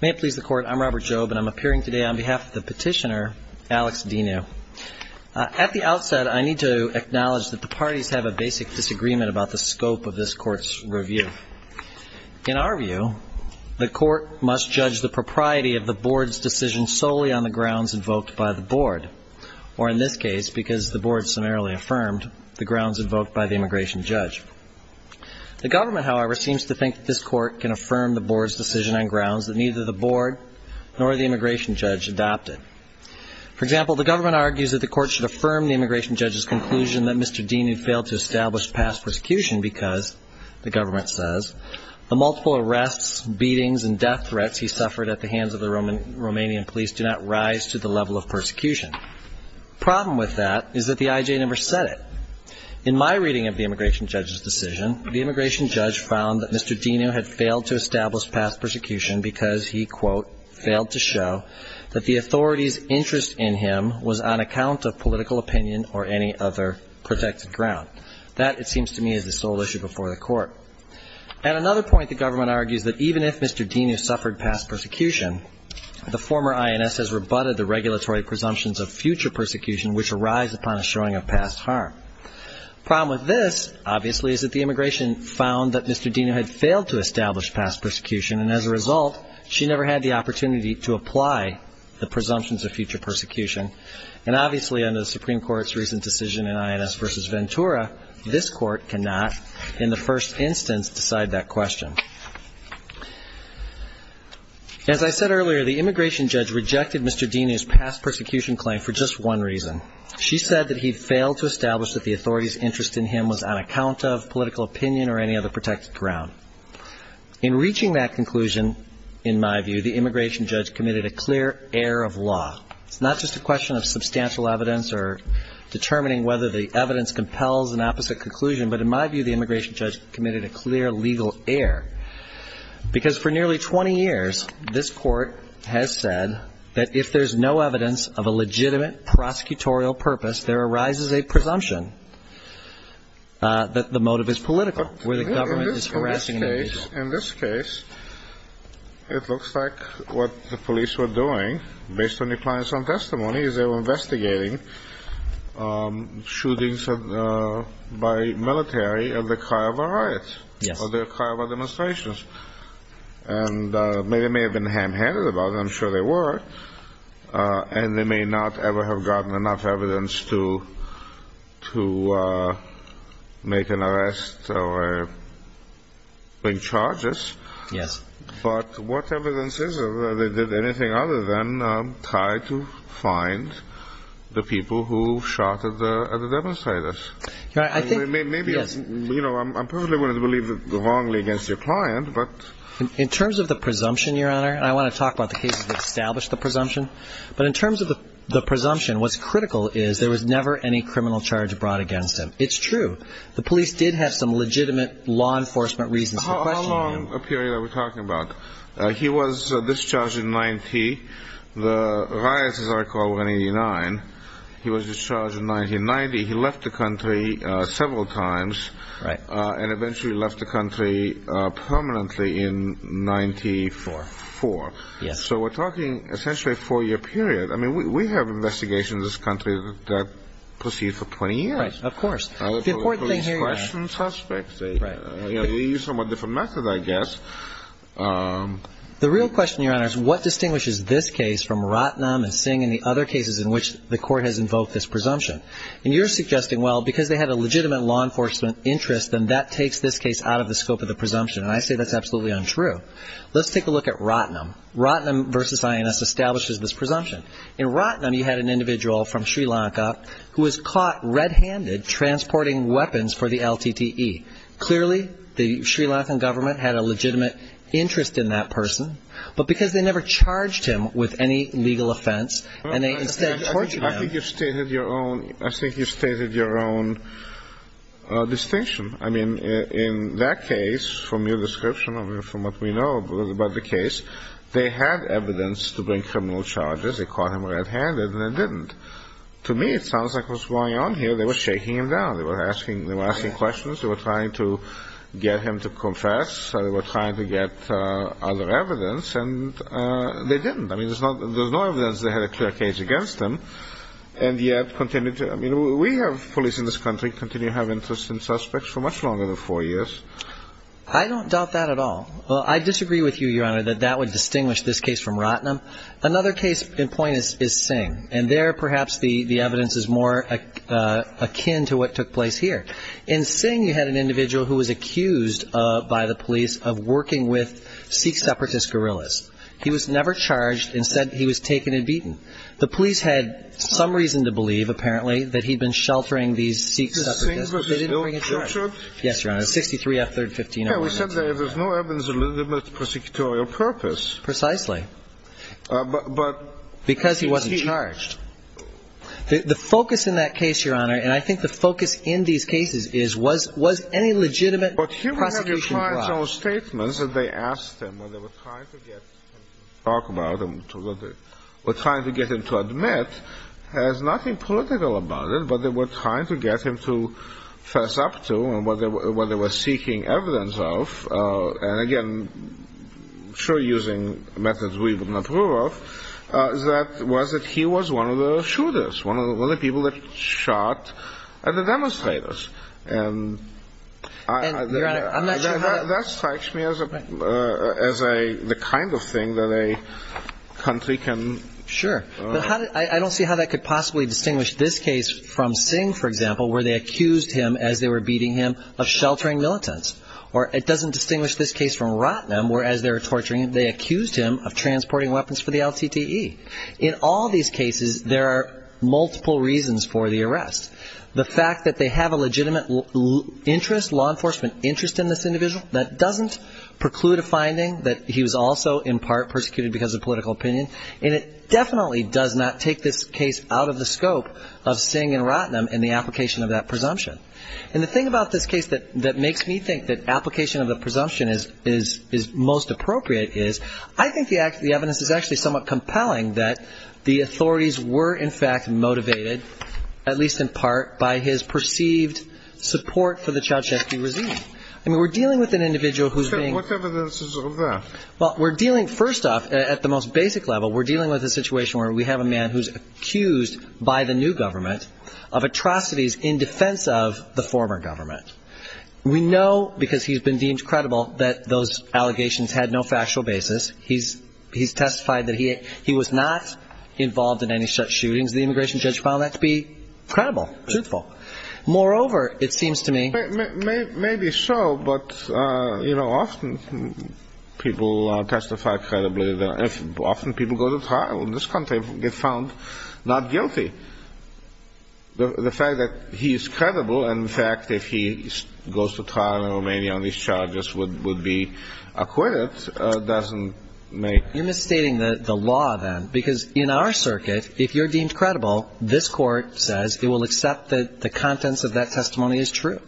May it please the Court, I'm Robert Jobe and I'm appearing today on behalf of the petitioner, Alex Dinu. At the outset, I need to acknowledge that the parties have a basic disagreement about the scope of this Court's review. In our view, the Court must judge the propriety of the Board's decision solely on the grounds invoked by the Board, or in this case, because the Board summarily affirmed, the grounds invoked by the immigration judge. The Government, however, seems to think that this Court can affirm the Board's decision on grounds that neither the Board nor the immigration judge adopted. For example, the Government argues that the Court should affirm the immigration judge's conclusion that Mr. Dinu failed to establish past persecution because, the Government says, the multiple arrests, beatings, and death threats he suffered at the hands of the Romanian police do not rise to the level of persecution. The problem with that is that the IJ never said it. In my reading of the immigration judge's decision, the immigration judge found that Mr. Dinu had failed to establish past persecution because he, quote, failed to show that the authorities' interest in him was on account of political opinion or any other protected ground. That, it seems to me, is the sole issue before the Court. At another point, the Government argues that even if Mr. Dinu suffered past persecution, the former INS has rebutted the regulatory presumptions of future persecution, which arise upon a showing of past harm. The problem with this, obviously, is that the immigration found that Mr. Dinu had failed to establish past persecution, and as a result, she never had the opportunity to apply the presumptions of future persecution. And obviously, under the Supreme Court's recent decision in INS v. Ventura, this Court cannot, in the first instance, decide that question. As I said earlier, the immigration judge rejected Mr. Dinu's past persecution claim for just one reason. She said that he failed to establish that the authorities' interest in him was on account of political opinion or any other protected ground. In reaching that conclusion, in my view, the immigration judge committed a clear error of law. It's not just a question of substantial evidence or determining whether the evidence compels an opposite conclusion, but in my view, the immigration judge committed a clear legal error. Because for nearly 20 years, this Court has said that if there's no evidence of a legitimate prosecutorial purpose, there arises a presumption that the motive is political, where the government is harassing an immigration. In this case, it looks like what the police were doing, based on the client's own testimony, is they were investigating shootings by military in the Kaaba riots, or the Kaaba demonstrations. And they may have been ham-handed about it, I'm sure they were, and they may not ever have gotten enough evidence to make an arrest or bring charges. But what evidence is there that they did anything other than try to find the people who shot at the demonstrators? I'm perfectly willing to believe it's wrongly against your client, but... In terms of the presumption, Your Honor, and I want to talk about the cases that established the presumption, but in terms of the presumption, what's critical is there was never any criminal charge brought against him. It's true. The police did have some legitimate law enforcement reasons for questioning him. How long a period are we talking about? He was discharged in 1990. The riots, as I recall, were in 1989. He was discharged in 1990. He left the country several times, and eventually left the country permanently in 1994. So we're talking essentially a four-year period. We have investigations in this case. The real question, Your Honor, is what distinguishes this case from Rottnum and Singh and the other cases in which the court has invoked this presumption? And you're suggesting, well, because they had a legitimate law enforcement interest, then that takes this case out of the scope of the presumption. And I say that's absolutely untrue. Let's take a look at Rottnum. Rottnum v. INS establishes this presumption. In Rottnum, you had an individual from Sri Lanka who was caught red-handed transporting weapons for the LTTE. Clearly, the Sri Lankan government had a legitimate interest in that person, but because they never charged him with any legal offense, and they instead charged him. I think you stated your own distinction. I mean, in that case, from your description, from what we know about the case, they had evidence to bring him to justice, but they didn't. To me, it sounds like what's going on here, they were shaking him down. They were asking questions. They were trying to get him to confess. They were trying to get other evidence. And they didn't. I mean, there's no evidence they had a clear case against him. And yet, we have police in this country continue to have interest in suspects for much longer than four years. I don't doubt that at all. Well, I disagree with you, Your Honor, that that would distinguish this case from Rottnum. Another case in point is Sing. And there, perhaps, the evidence is more akin to what took place here. In Sing, you had an individual who was accused by the police of working with Sikh separatist guerrillas. He was never charged. Instead, he was taken and beaten. The police had some reason to believe, apparently, that he'd been sheltering these Sikh separatists. But he was never charged. Yes, Your Honor. 63 F. 3rd, 1501. Yeah, we said there's no evidence of legitimate prosecutorial purpose. Precisely. But because he wasn't charged. The focus in that case, Your Honor, and I think the focus in these cases is, was any legitimate prosecution brought? But he would have defied those statements that they asked him when they were trying to get him to talk about it, when they were trying to get him to talk about it. And what they were up to and what they were seeking evidence of, and again, sure, using methods we would not rule off, was that he was one of the shooters, one of the people that shot at the demonstrators. And I'm not sure how that strikes me as the kind of thing that a country can. Sure. But I don't see how that could possibly distinguish this case from Singh, for example, where they accused him, as they were beating him, of sheltering militants. Or it doesn't distinguish this case from Ratnam, where, as they were torturing him, they accused him of transporting weapons for the LTTE. In all these cases, there are multiple reasons for the arrest. The fact that they have a legitimate interest, law enforcement interest in this individual, that doesn't preclude a finding that he was also, in part, persecuted because of political opinion. And it definitely does not take this case out of the scope of Singh and Ratnam in the application of that presumption. And the thing about this case that makes me think that application of the presumption is most appropriate is, I think the evidence is actually somewhat compelling that the authorities were, in fact, motivated, at least in part, by his perceived support for the Chowchehki regime. I mean, we're dealing with an individual who's being accused by the new government of atrocities in defense of the former government. We know, because he's been deemed credible, that those allegations had no factual basis. He's testified that he was not involved in any such shootings. The immigration judge found that to be credible, truthful. Moreover, it seems to me... People testify credibly. Often people go to trial. In this country, they're found not guilty. The fact that he's credible, in fact, if he goes to trial in Romania and these charges would be acquitted, doesn't make... You're misstating the law, then, because in our circuit, if you're deemed credible, this Court says it will accept that the contents of that testimony is true.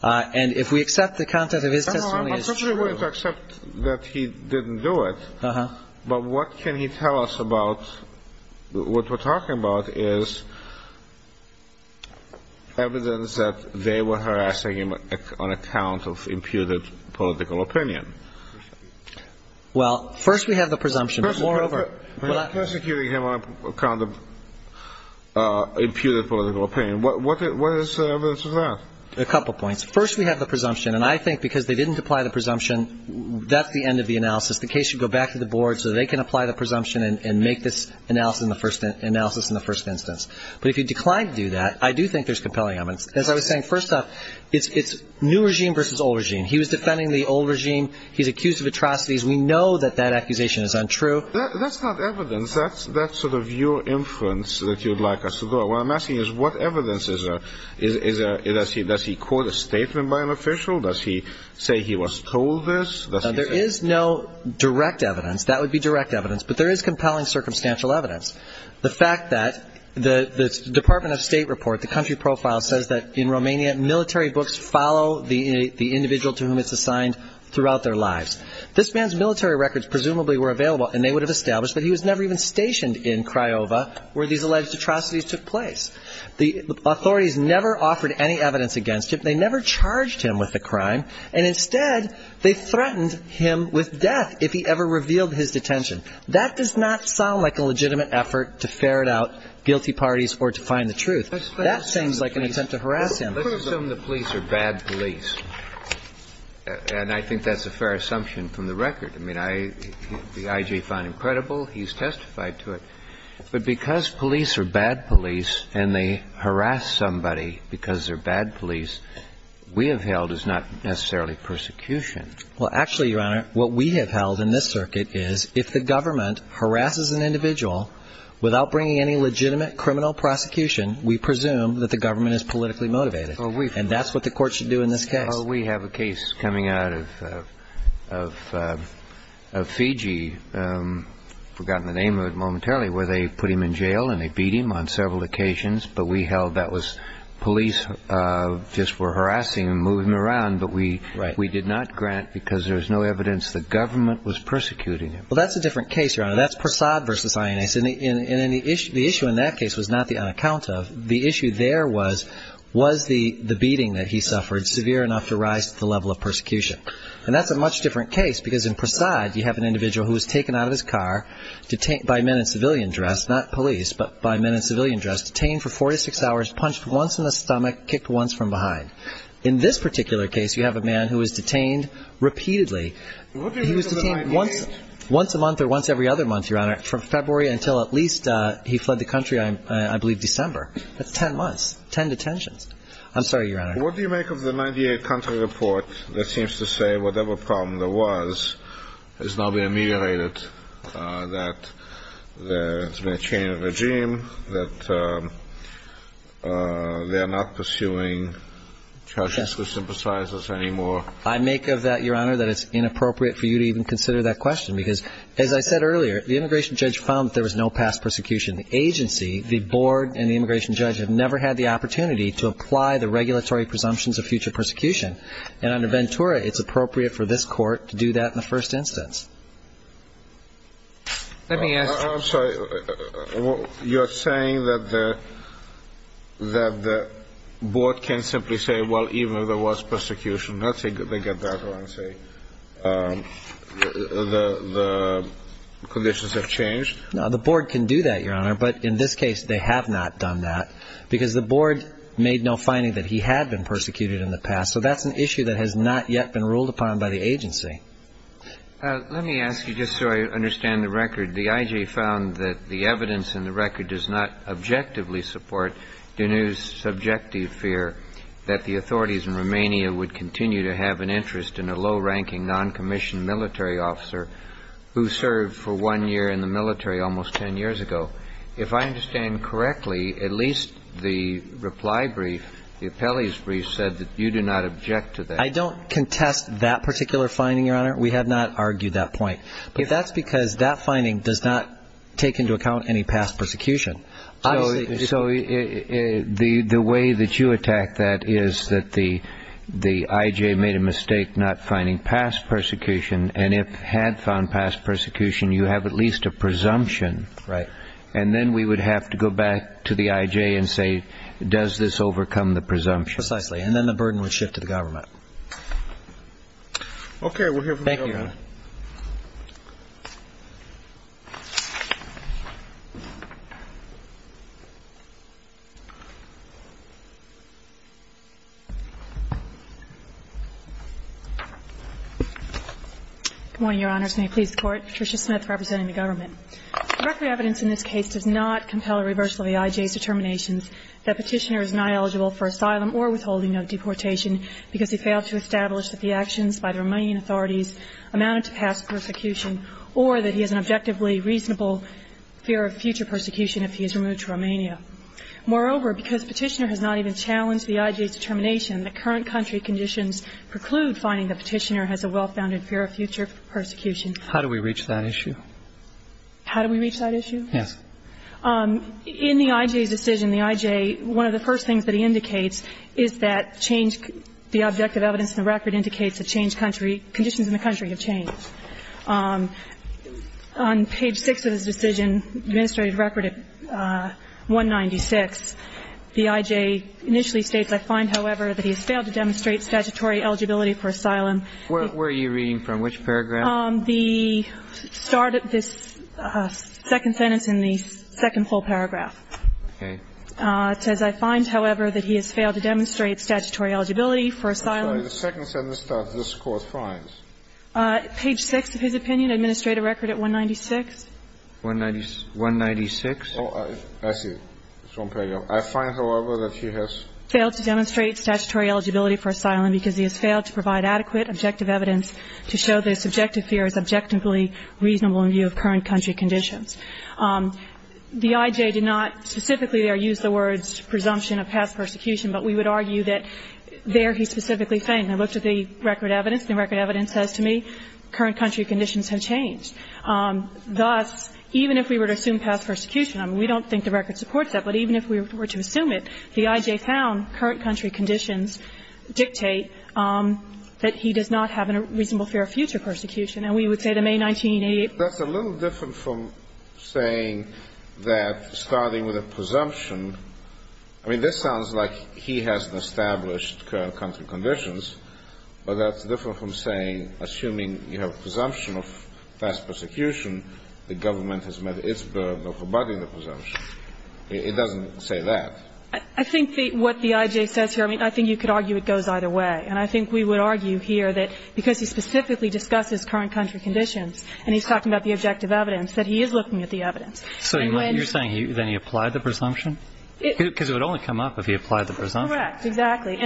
And if we accept the contents of his testimony is true... It's not that we're going to accept that he didn't do it, but what can he tell us about... What we're talking about is evidence that they were harassing him on account of imputed political opinion. Well, first we have the presumption, but moreover... Prosecuting him on account of imputed political opinion. What is the evidence of that? A couple points. First, we have the presumption, and I think because they didn't apply the presumption, that's the end of the analysis. The case should go back to the board so they can apply the presumption and make this analysis in the first instance. But if he declined to do that, I do think there's compelling evidence. As I was saying, first off, it's new regime versus old regime. He was defending the old regime. He's accused of atrocities. We know that that accusation is untrue. That's not evidence. That's sort of your inference that you'd like us to go... What I'm asking is, what evidence does he have? Does he quote a statement by an official? Does he say he was told this? There is no direct evidence. That would be direct evidence, but there is compelling circumstantial evidence. The fact that the Department of State report, the country profile, says that in Romania, military books follow the individual to whom it's assigned throughout their lives. This man's military records presumably were available and they would have established, but he was never even stationed in Craiova where these alleged atrocities took place. The authorities never offered any evidence against him. They never charged him with a crime. And instead, they threatened him with death if he ever revealed his detention. That does not sound like a legitimate effort to ferret out guilty parties or to find the truth. That seems like an attempt to harass him. Let's assume the police are bad police. And I think that's a fair assumption from the record. I mean, the I.G. found him credible. He's testified to it. But because police are bad police and they harass somebody because they're bad police, we have held as not necessarily persecution. Well, actually, Your Honor, what we have held in this circuit is if the government harasses an individual without bringing any legitimate criminal prosecution, we presume that the government is politically motivated. And that's what the court should do in this case. Well, we have a case coming out of Fiji, forgotten the name of it momentarily, where they put him in jail and they beat him on several occasions. But we held that police just were harassing him, moving him around. But we did not grant because there was no evidence the government was persecuting him. Well, that's a different case, Your Honor. That's Persaud v. INS. And the issue in that case was not the unaccount of. The issue there was, was the beating that he suffered severe enough to rise to the level of persecution? And that's a much different case because in Persaud, you have an individual who was taken out of his car by men in civilian dress, not police, but by men in civilian dress, detained for four to six hours, punched once in the stomach, kicked once from behind. In this particular case, you have a man who was detained repeatedly. He was detained once a month or once every other month, Your Honor, from February until at least he fled the country, I believe, December. That's ten months, ten detentions. I'm sorry, Your Honor. What do you make of the 1998 country report that seems to say whatever problem there was is now being ameliorated, that there's been a change of regime, that they are not pursuing charges to sympathize us anymore? I make of that, Your Honor, that it's inappropriate for you to even consider that question because, as I said earlier, the immigration judge found that there was no past persecution. The agency, the board, and the immigration judge have never had the opportunity to apply the regulatory presumptions of future persecution. And under Ventura, it's appropriate for this court to do that in the first instance. I'm sorry. You're saying that the board can simply say, well, even if there was persecution, let's say they get that one, say the conditions have changed? No, the board can do that, Your Honor, but in this case, they have not done that because the board made no finding that he had been persecuted in the past. So that's an issue that has not yet been ruled upon by the agency. Let me ask you, just so I understand the record, the I.G. found that the evidence in the record does not objectively support Deneu's subjective fear that the authorities in Romania would continue to have an interest in a low-ranking, non-commissioned military officer who served for one year in the military, and that he would not be prosecuted. That's not what I'm saying, Your Honor. I'm saying that the I.G. found that Deneu's subjective fear does not objectively support Deneu's subjective fear that the authorities in Romania would continue to have an interest in a low-ranking, non-commissioned military officer who served for one year in the military, and that he would not be prosecuted. I don't contest that particular finding, Your Honor. We have not argued that point. That's because that finding does not take into account any past persecution. So the way that you attack that is that the I.G. made a mistake not finding past persecution, and if had found past persecution, you have at least a presumption that Deneu's subjective fear does not objectively support Deneu's subjective fear. And then we would have to go back to the I.G. and say, does this overcome the presumption? Precisely. And then the burden would shift to the government. Okay. We'll hear from the government. Thank you, Your Honor. Good morning, Your Honors. May it please the Court? Patricia Smith representing the government. Directly evidence in this case does not compel a reversal of the I.G.'s determinations that Petitioner is not eligible for asylum or withholding of deportation because he failed to establish that the actions by the Romanian authorities on the grounds of the I.G. amounted to past persecution or that he has an objectively reasonable fear of future persecution if he is removed to Romania. Moreover, because Petitioner has not even challenged the I.G.'s determination, the current country conditions preclude finding that Petitioner has a well-founded fear of future persecution. How do we reach that issue? How do we reach that issue? Yes. In the I.G.'s decision, the I.G., one of the first things that he indicates is that the objective evidence in the record indicates that conditions in the country have changed. On page 6 of his decision, administrative record 196, the I.G. initially states, I find, however, that he has failed to demonstrate statutory eligibility for asylum. Where are you reading from? Which paragraph? The start of this second sentence in the second whole paragraph. Okay. It says, I find, however, that he has failed to demonstrate statutory eligibility for asylum. I'm sorry. The second sentence starts. This Court finds. Page 6 of his opinion, administrative record at 196. 196. 196. Oh, I see. It's one paragraph. I find, however, that he has failed to demonstrate statutory eligibility for asylum because he has failed to provide adequate objective evidence to show that his subjective fear is objectively reasonable in view of current country conditions. The I.G. did not specifically there use the words presumption of past persecution, but we would argue that there he specifically fainted. I looked at the record evidence. The record evidence says to me, current country conditions have changed. Thus, even if we were to assume past persecution, I mean, we don't think the record supports that, but even if we were to assume it, the I.G. found, current country conditions dictate that he does not have a reasonable fear of future persecution. And we would say to May 1988. That's a little different from saying that starting with a presumption. I mean, this sounds like he has established current country conditions, but that's different from saying, assuming you have a presumption of past persecution, the government has met its burden of abiding the presumption. It doesn't say that. I think what the I.G. says here, I mean, I think you could argue it goes either way. And I think we would argue here that because he specifically discusses current country conditions, and he's talking about the objective evidence, that he is looking at the evidence. So you're saying then he applied the presumption? Because it would only come up if he applied the presumption. Correct, exactly.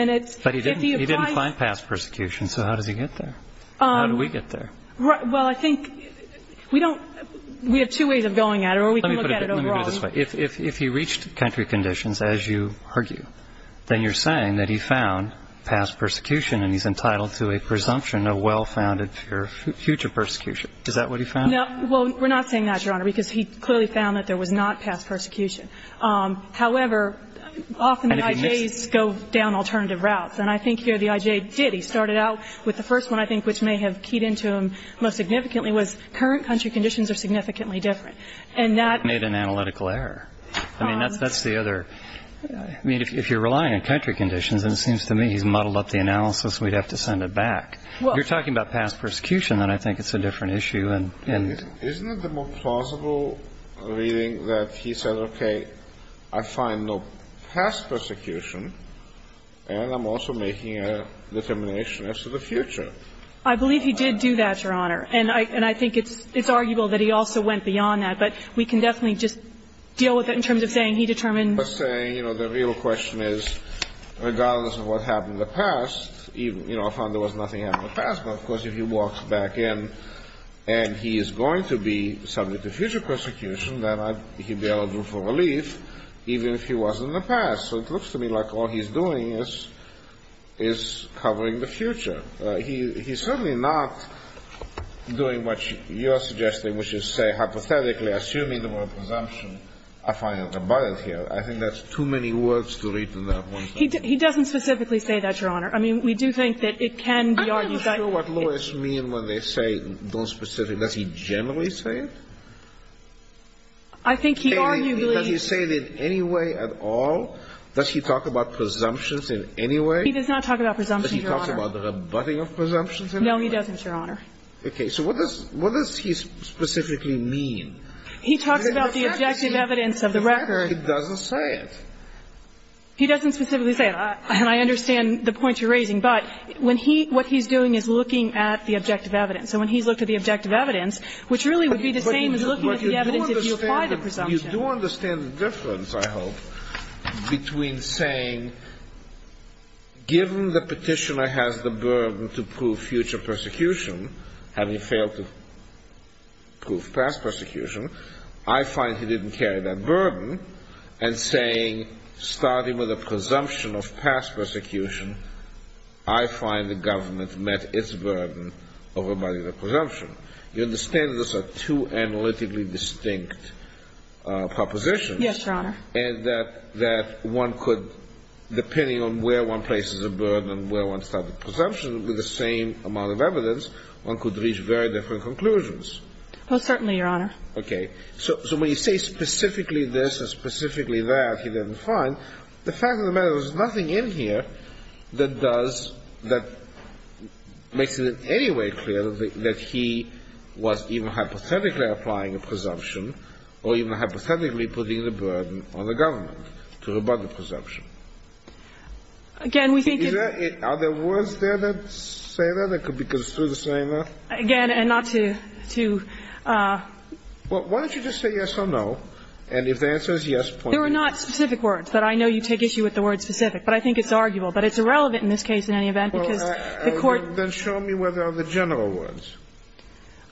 But he didn't find past persecution, so how does he get there? How do we get there? Well, I think we don't, we have two ways of going at it, or we can look at it overall. If he reached country conditions, as you argue, then you're saying that he found past persecution, and he's entitled to a presumption of well-founded future persecution. Is that what he found? No, well, we're not saying that, Your Honor, because he clearly found that there was not past persecution. However, often the I.J.'s go down alternative routes. And I think here the I.J. did. He started out with the first one, I think, which may have keyed into him most significantly, was current country conditions are significantly different. And that made an analytical error. I mean, that's the other, I mean, if you're relying on country conditions, and it seems to me he's muddled up the analysis, we'd have to send it back. You're talking about past persecution, then I think it's a different issue. Isn't it the more plausible reading that he said, okay, I find no past persecution, and I'm also making a determination as to the future? I believe he did do that, Your Honor. And I think it's arguable that he also went beyond that. But we can definitely just deal with it in terms of saying he determined. I was saying, you know, the real question is, regardless of what happened in the past, you know, I found there was nothing happened in the past. But, of course, if he walks back in and he is going to be subject to future persecution, then he'd be on a roof of relief, even if he wasn't in the past. So it looks to me like all he's doing is covering the future. He's certainly not doing what you're suggesting, which is say hypothetically, assuming the word presumption, I find it rebutted here. I think that's too many words to read from that one sentence. He doesn't specifically say that, Your Honor. I mean, we do think that it can be argued that he... I'm not sure what lawyers mean when they say don't specifically. Does he generally say it? I think he arguably... Kayleigh, does he say it in any way at all? He does not talk about presumptions, Your Honor. But he talks about the rebutting of presumptions? No, he doesn't, Your Honor. Okay. So what does he specifically mean? He talks about the objective evidence of the record. He doesn't say it. He doesn't specifically say it. And I understand the point you're raising. But when he what he's doing is looking at the objective evidence. And when he's looked at the objective evidence, which really would be the same as looking at the evidence if you apply the presumption. Well, you do understand the difference, I hope, between saying given the petitioner has the burden to prove future persecution, having failed to prove past persecution, I find he didn't carry that burden, and saying starting with a presumption of past persecution, I find the government met its burden of rebutting the presumption. You understand that those are two analytically distinct propositions. Yes, Your Honor. And that one could, depending on where one places a burden and where one starts a presumption, with the same amount of evidence, one could reach very different conclusions. Well, certainly, Your Honor. Okay. So when you say specifically this and specifically that, he didn't find, the fact of the matter is there's nothing in here that does that makes it in any way clear that he was even hypothetically applying a presumption or even hypothetically putting the burden on the government to rebut the presumption. Again, we think in the... Are there words there that say that, that could be construed as saying that? Again, and not to, to... Well, why don't you just say yes or no, and if the answer is yes, point it out. There are not specific words, but I know you take issue with the word specific. But I think it's arguable. But it's irrelevant in this case in any event, because the Court... Then show me what are the general words.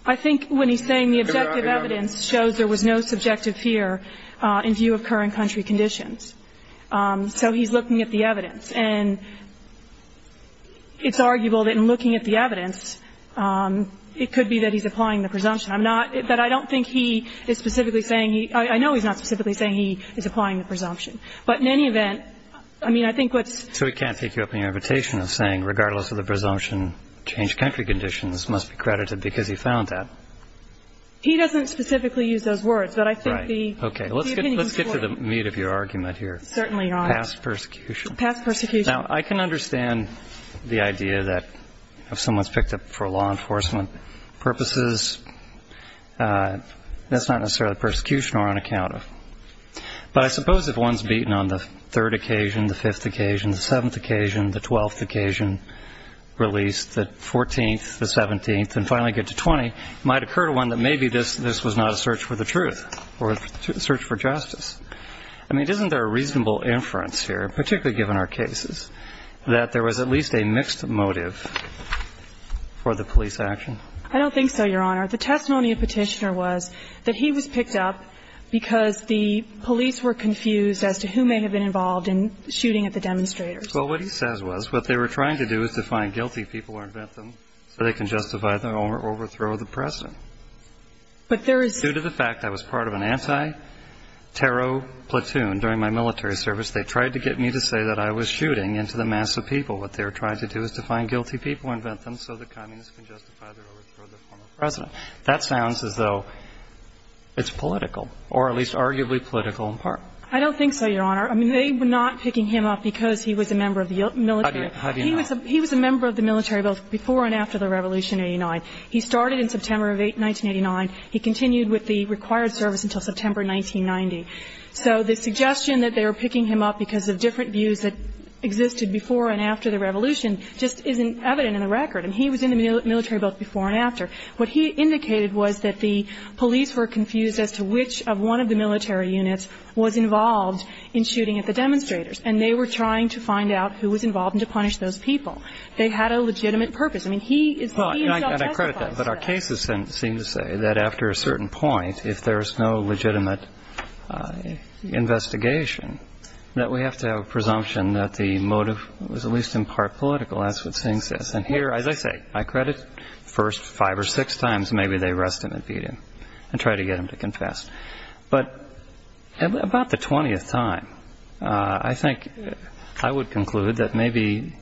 I think when he's saying the objective evidence shows there was no subjective fear in view of current country conditions. So he's looking at the evidence. And it's arguable that in looking at the evidence, it could be that he's applying the presumption. I'm not, that I don't think he is specifically saying he, I know he's not specifically saying he is applying the presumption. But in any event, I mean, I think what's... So he can't take you up on your invitation of saying regardless of the presumption, changed country conditions must be credited because he found that. He doesn't specifically use those words, but I think the... Right. Okay. Let's get to the meat of your argument here. Certainly, Your Honor. Past persecution. Past persecution. Now, I can understand the idea that if someone's picked up for law enforcement purposes, that's not necessarily persecution or unaccounted. But I suppose if one's beaten on the third occasion, the fifth occasion, the seventh occasion, the twelfth occasion, released, the fourteenth, the seventeenth, and finally get to twenty, it might occur to one that maybe this was not a search for the truth or a search for justice. I mean, isn't there a reasonable inference here, particularly given our cases, that there was at least a mixed motive for the police action? I don't think so, Your Honor. The testimony of Petitioner was that he was picked up because the police were confused as to who may have been involved in shooting at the demonstrators. Well, what he says was what they were trying to do is to find guilty people or invent them so they can justify their own overthrow of the President. But there is... Due to the fact I was part of an anti-terror platoon during my military service, they tried to get me to say that I was shooting into the mass of people. What they were trying to do is to find guilty people, invent them so the communists can justify their overthrow of the former President. That sounds as though it's political, or at least arguably political in part. I don't think so, Your Honor. I mean, they were not picking him up because he was a member of the military. How do you know? He was a member of the military both before and after the Revolution in 1989. He started in September of 1989. He continued with the required service until September 1990. So the suggestion that they were picking him up because of different views that existed before and after the Revolution just isn't evident in the record. I mean, he was in the military both before and after. What he indicated was that the police were confused as to which of one of the military units was involved in shooting at the demonstrators, and they were trying to find out who was involved and to punish those people. They had a legitimate purpose. I mean, he himself testified to that. And I credit that, but our cases seem to say that after a certain point, if there is no legitimate investigation, that we have to have a presumption that the motive was at least in part political. That's what Singh says. And here, as I say, I credit first five or six times maybe they arrest him and beat him and try to get him to confess. But about the 20th time, I think I would conclude that maybe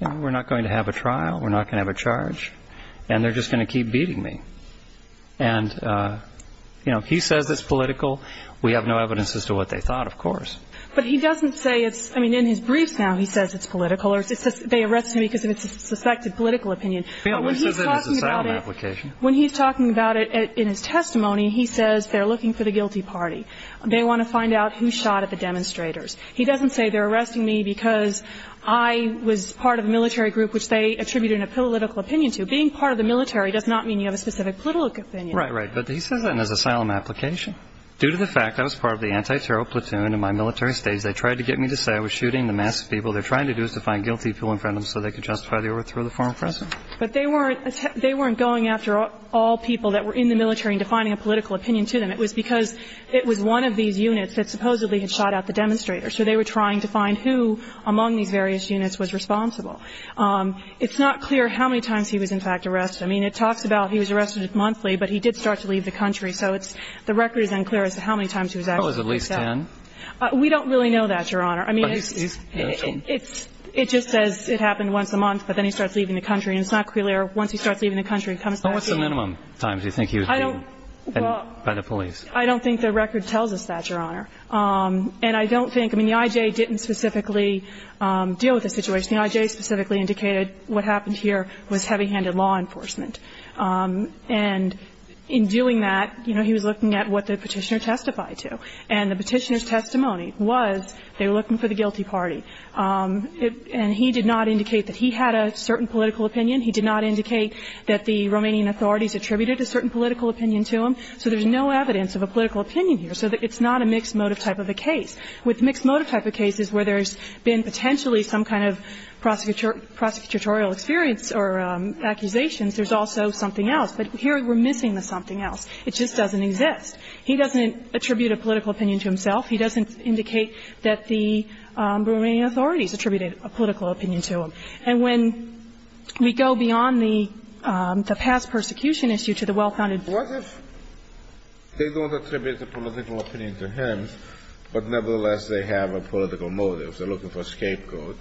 we're not going to have a trial, we're not going to have a charge, and they're just going to keep beating me. And, you know, if he says it's political, we have no evidence as to what they thought, of course. But he doesn't say it's – I mean, in his briefs now he says it's political or they arrest him because it's a suspected political opinion. When he's talking about it in his testimony, he says they're looking for the guilty party. They want to find out who shot at the demonstrators. He doesn't say they're arresting me because I was part of a military group, which they attributed a political opinion to. Being part of the military does not mean you have a specific political opinion. Right, right. But he says that in his asylum application. Due to the fact I was part of the anti-terror platoon in my military stage, they tried to get me to say I was shooting the masked people. They're trying to do is to find guilty people in front of them so they can justify the overthrow of the former President. But they weren't going after all people that were in the military and defining a political opinion to them. It was because it was one of these units that supposedly had shot at the demonstrators, so they were trying to find who among these various units was responsible. It's not clear how many times he was, in fact, arrested. I mean, it talks about he was arrested monthly, but he did start to leave the country. So it's the record is unclear as to how many times he was actually arrested. That was at least 10? We don't really know that, Your Honor. I mean, it just says it happened once a month, but then he starts leaving the country. And it's not clear once he starts leaving the country, he comes back in. What's the minimum times you think he was beaten by the police? I don't think the record tells us that, Your Honor. And I don't think the I.J. didn't specifically deal with the situation. I think the I.J. specifically indicated what happened here was heavy-handed law enforcement. And in doing that, you know, he was looking at what the Petitioner testified to. And the Petitioner's testimony was they were looking for the guilty party. And he did not indicate that he had a certain political opinion. He did not indicate that the Romanian authorities attributed a certain political opinion to him. So there's no evidence of a political opinion here. So it's not a mixed motive type of a case. With mixed motive type of cases where there's been potentially some kind of prosecutorial experience or accusations, there's also something else. But here we're missing the something else. It just doesn't exist. He doesn't attribute a political opinion to himself. He doesn't indicate that the Romanian authorities attributed a political opinion to him. And when we go beyond the past persecution issue to the well-founded motive. They don't attribute a political opinion to him. But nevertheless, they have a political motive. They're looking for a scapegoat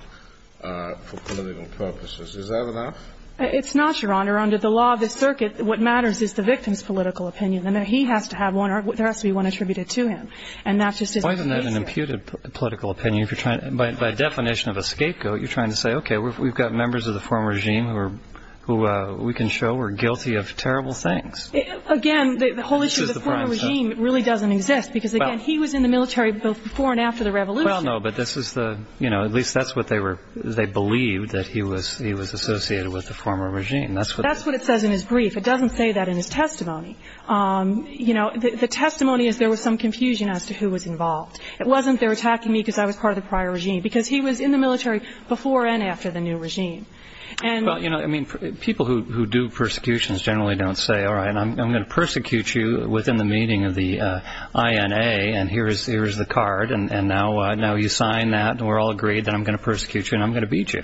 for political purposes. Is that enough? It's not, Your Honor. Under the law of the circuit, what matters is the victim's political opinion. And he has to have one or there has to be one attributed to him. And that's just as basic. Why isn't that an imputed political opinion? If you're trying to by definition of a scapegoat, you're trying to say, okay, we've got members of the former regime who we can show were guilty of terrible things. Again, the whole issue of the former regime really doesn't exist. Because, again, he was in the military both before and after the revolution. Well, no, but this is the, you know, at least that's what they believed, that he was associated with the former regime. That's what it says in his brief. It doesn't say that in his testimony. You know, the testimony is there was some confusion as to who was involved. It wasn't they were attacking me because I was part of the prior regime. Because he was in the military before and after the new regime. Well, you know, I mean, people who do persecutions generally don't say, all right, I'm going to persecute you within the meaning of the INA and here is the card. And now you sign that and we're all agreed that I'm going to persecute you and I'm going to beat you.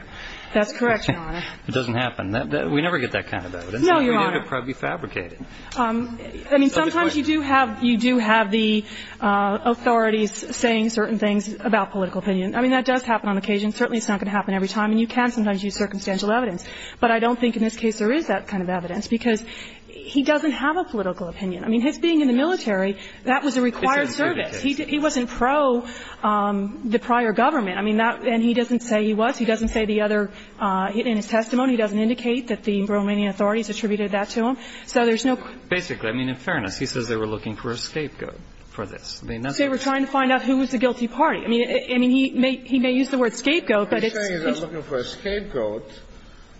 That's correct, Your Honor. It doesn't happen. We never get that kind of vote. No, Your Honor. It's never fabricated. I mean, sometimes you do have the authorities saying certain things about political opinion. I mean, that does happen on occasion. Certainly it's not going to happen every time. I mean, you can sometimes use circumstantial evidence. But I don't think in this case there is that kind of evidence, because he doesn't have a political opinion. I mean, his being in the military, that was a required service. He wasn't pro the prior government. I mean, that – and he doesn't say he was. He doesn't say the other – in his testimony, he doesn't indicate that the Romanian authorities attributed that to him. So there's no – Basically. I mean, in fairness, he says they were looking for a scapegoat for this. They were trying to find out who was the guilty party. I mean, he may use the word scapegoat, but it's – What I'm saying is they were looking for a scapegoat,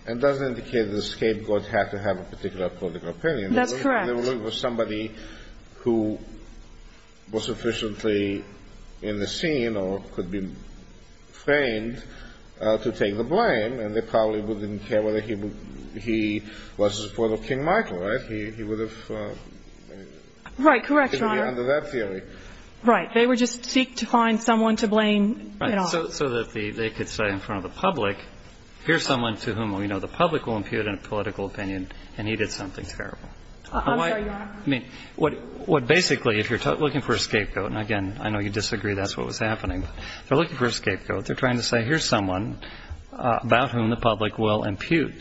and it doesn't indicate that a scapegoat had to have a particular political opinion. That's correct. They were looking for somebody who was sufficiently in the scene or could be framed to take the blame, and they probably wouldn't care whether he was in support of King Michael, right? He would have – Right. Correct, Your Honor. He would be under that theory. Right. They would just seek to find someone to blame at all. So that they could say in front of the public, here's someone to whom we know the public will impute a political opinion, and he did something terrible. I'm sorry, Your Honor. I mean, what basically, if you're looking for a scapegoat, and again, I know you disagree that's what was happening. They're looking for a scapegoat. They're trying to say here's someone about whom the public will impute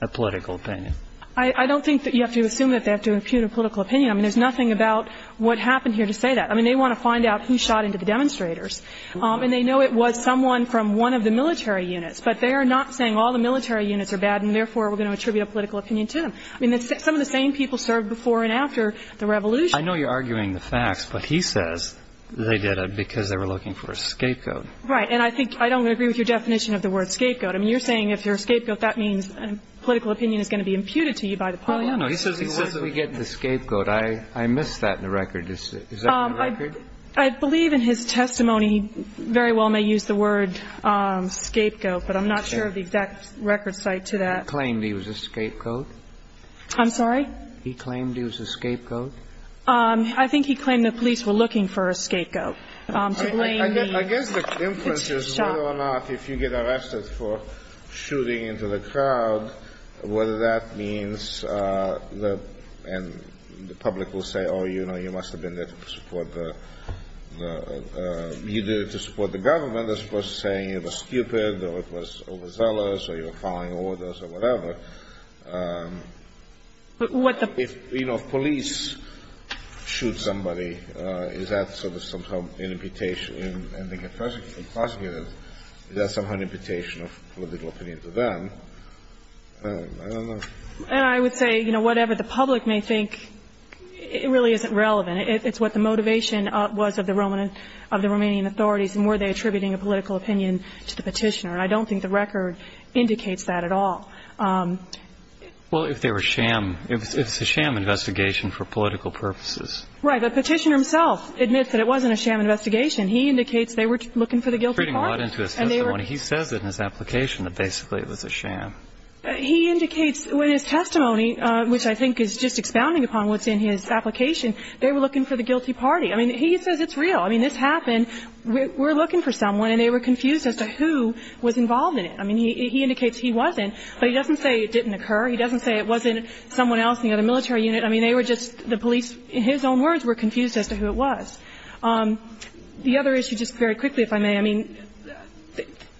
a political opinion. I don't think that you have to assume that they have to impute a political opinion. I mean, there's nothing about what happened here to say that. I mean, they want to find out who shot into the demonstrators. And they know it was someone from one of the military units. But they are not saying all the military units are bad, and therefore, we're going to attribute a political opinion to them. I mean, some of the same people served before and after the revolution. I know you're arguing the facts, but he says they did it because they were looking for a scapegoat. Right. And I think – I don't agree with your definition of the word scapegoat. I mean, you're saying if you're a scapegoat, that means a political opinion is going to be imputed to you by the public. No, no. I missed that in the record. Is that in the record? I believe in his testimony he very well may use the word scapegoat, but I'm not sure of the exact record cite to that. He claimed he was a scapegoat? I'm sorry? He claimed he was a scapegoat? I think he claimed the police were looking for a scapegoat. I guess the difference is whether or not if you get arrested for shooting into the crowd, whether that means the – and the public will say, oh, you know, you must have been there to support the – you did it to support the government. That's for saying it was stupid or it was overzealous or you were following orders or whatever. But what the – If, you know, police shoot somebody, is that sort of somehow an imputation? And they can prosecute them. Is that somehow an imputation of political opinion to them? I don't know. And I would say, you know, whatever the public may think, it really isn't relevant. It's what the motivation was of the Roman – of the Romanian authorities and were they attributing a political opinion to the Petitioner. And I don't think the record indicates that at all. Well, if they were sham – if it's a sham investigation for political purposes. Right. The Petitioner himself admits that it wasn't a sham investigation. He indicates they were looking for the guilty party. He says it in his application that basically it was a sham. He indicates in his testimony, which I think is just expounding upon what's in his application, they were looking for the guilty party. I mean, he says it's real. I mean, this happened. We're looking for someone and they were confused as to who was involved in it. I mean, he indicates he wasn't, but he doesn't say it didn't occur. He doesn't say it wasn't someone else in the other military unit. I mean, they were just – the police, in his own words, were confused as to who it was. The other issue, just very quickly, if I may, I mean,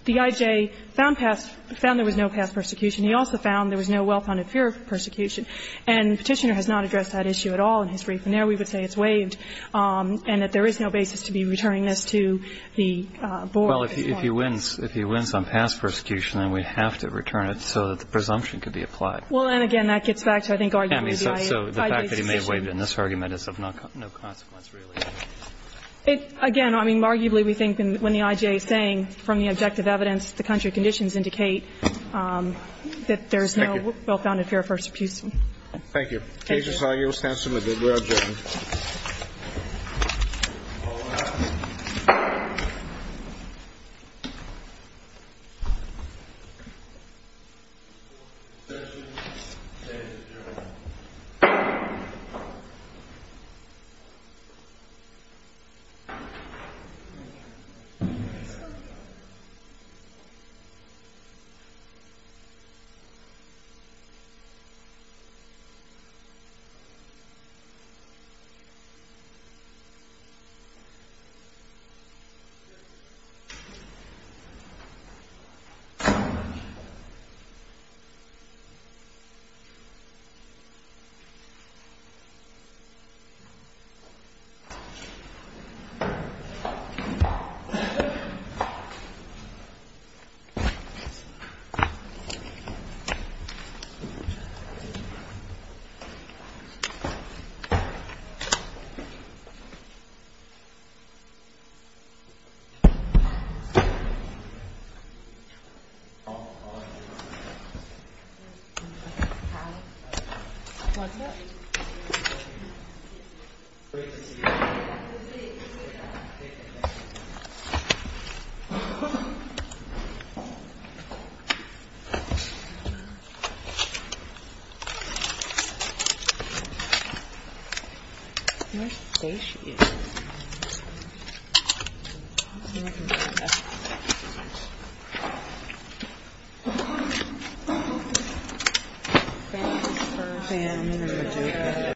the I.J. found past – found past persecution. He also found there was no well-founded fear of persecution. And the Petitioner has not addressed that issue at all in his brief. And there we would say it's waived and that there is no basis to be returning this to the board as well. Well, if he wins – if he wins on past persecution, then we have to return it so that the presumption could be applied. Well, and again, that gets back to, I think, arguably the I.J.'s position. I mean, so the fact that he may have waived in this argument is of no consequence really. It – again, I mean, arguably we think when the I.J. is saying from the objective evidence, the country conditions indicate that there is no well-founded fear of persecution. Thank you. Thank you. Thank you. Thank you. Thank you. Thank you.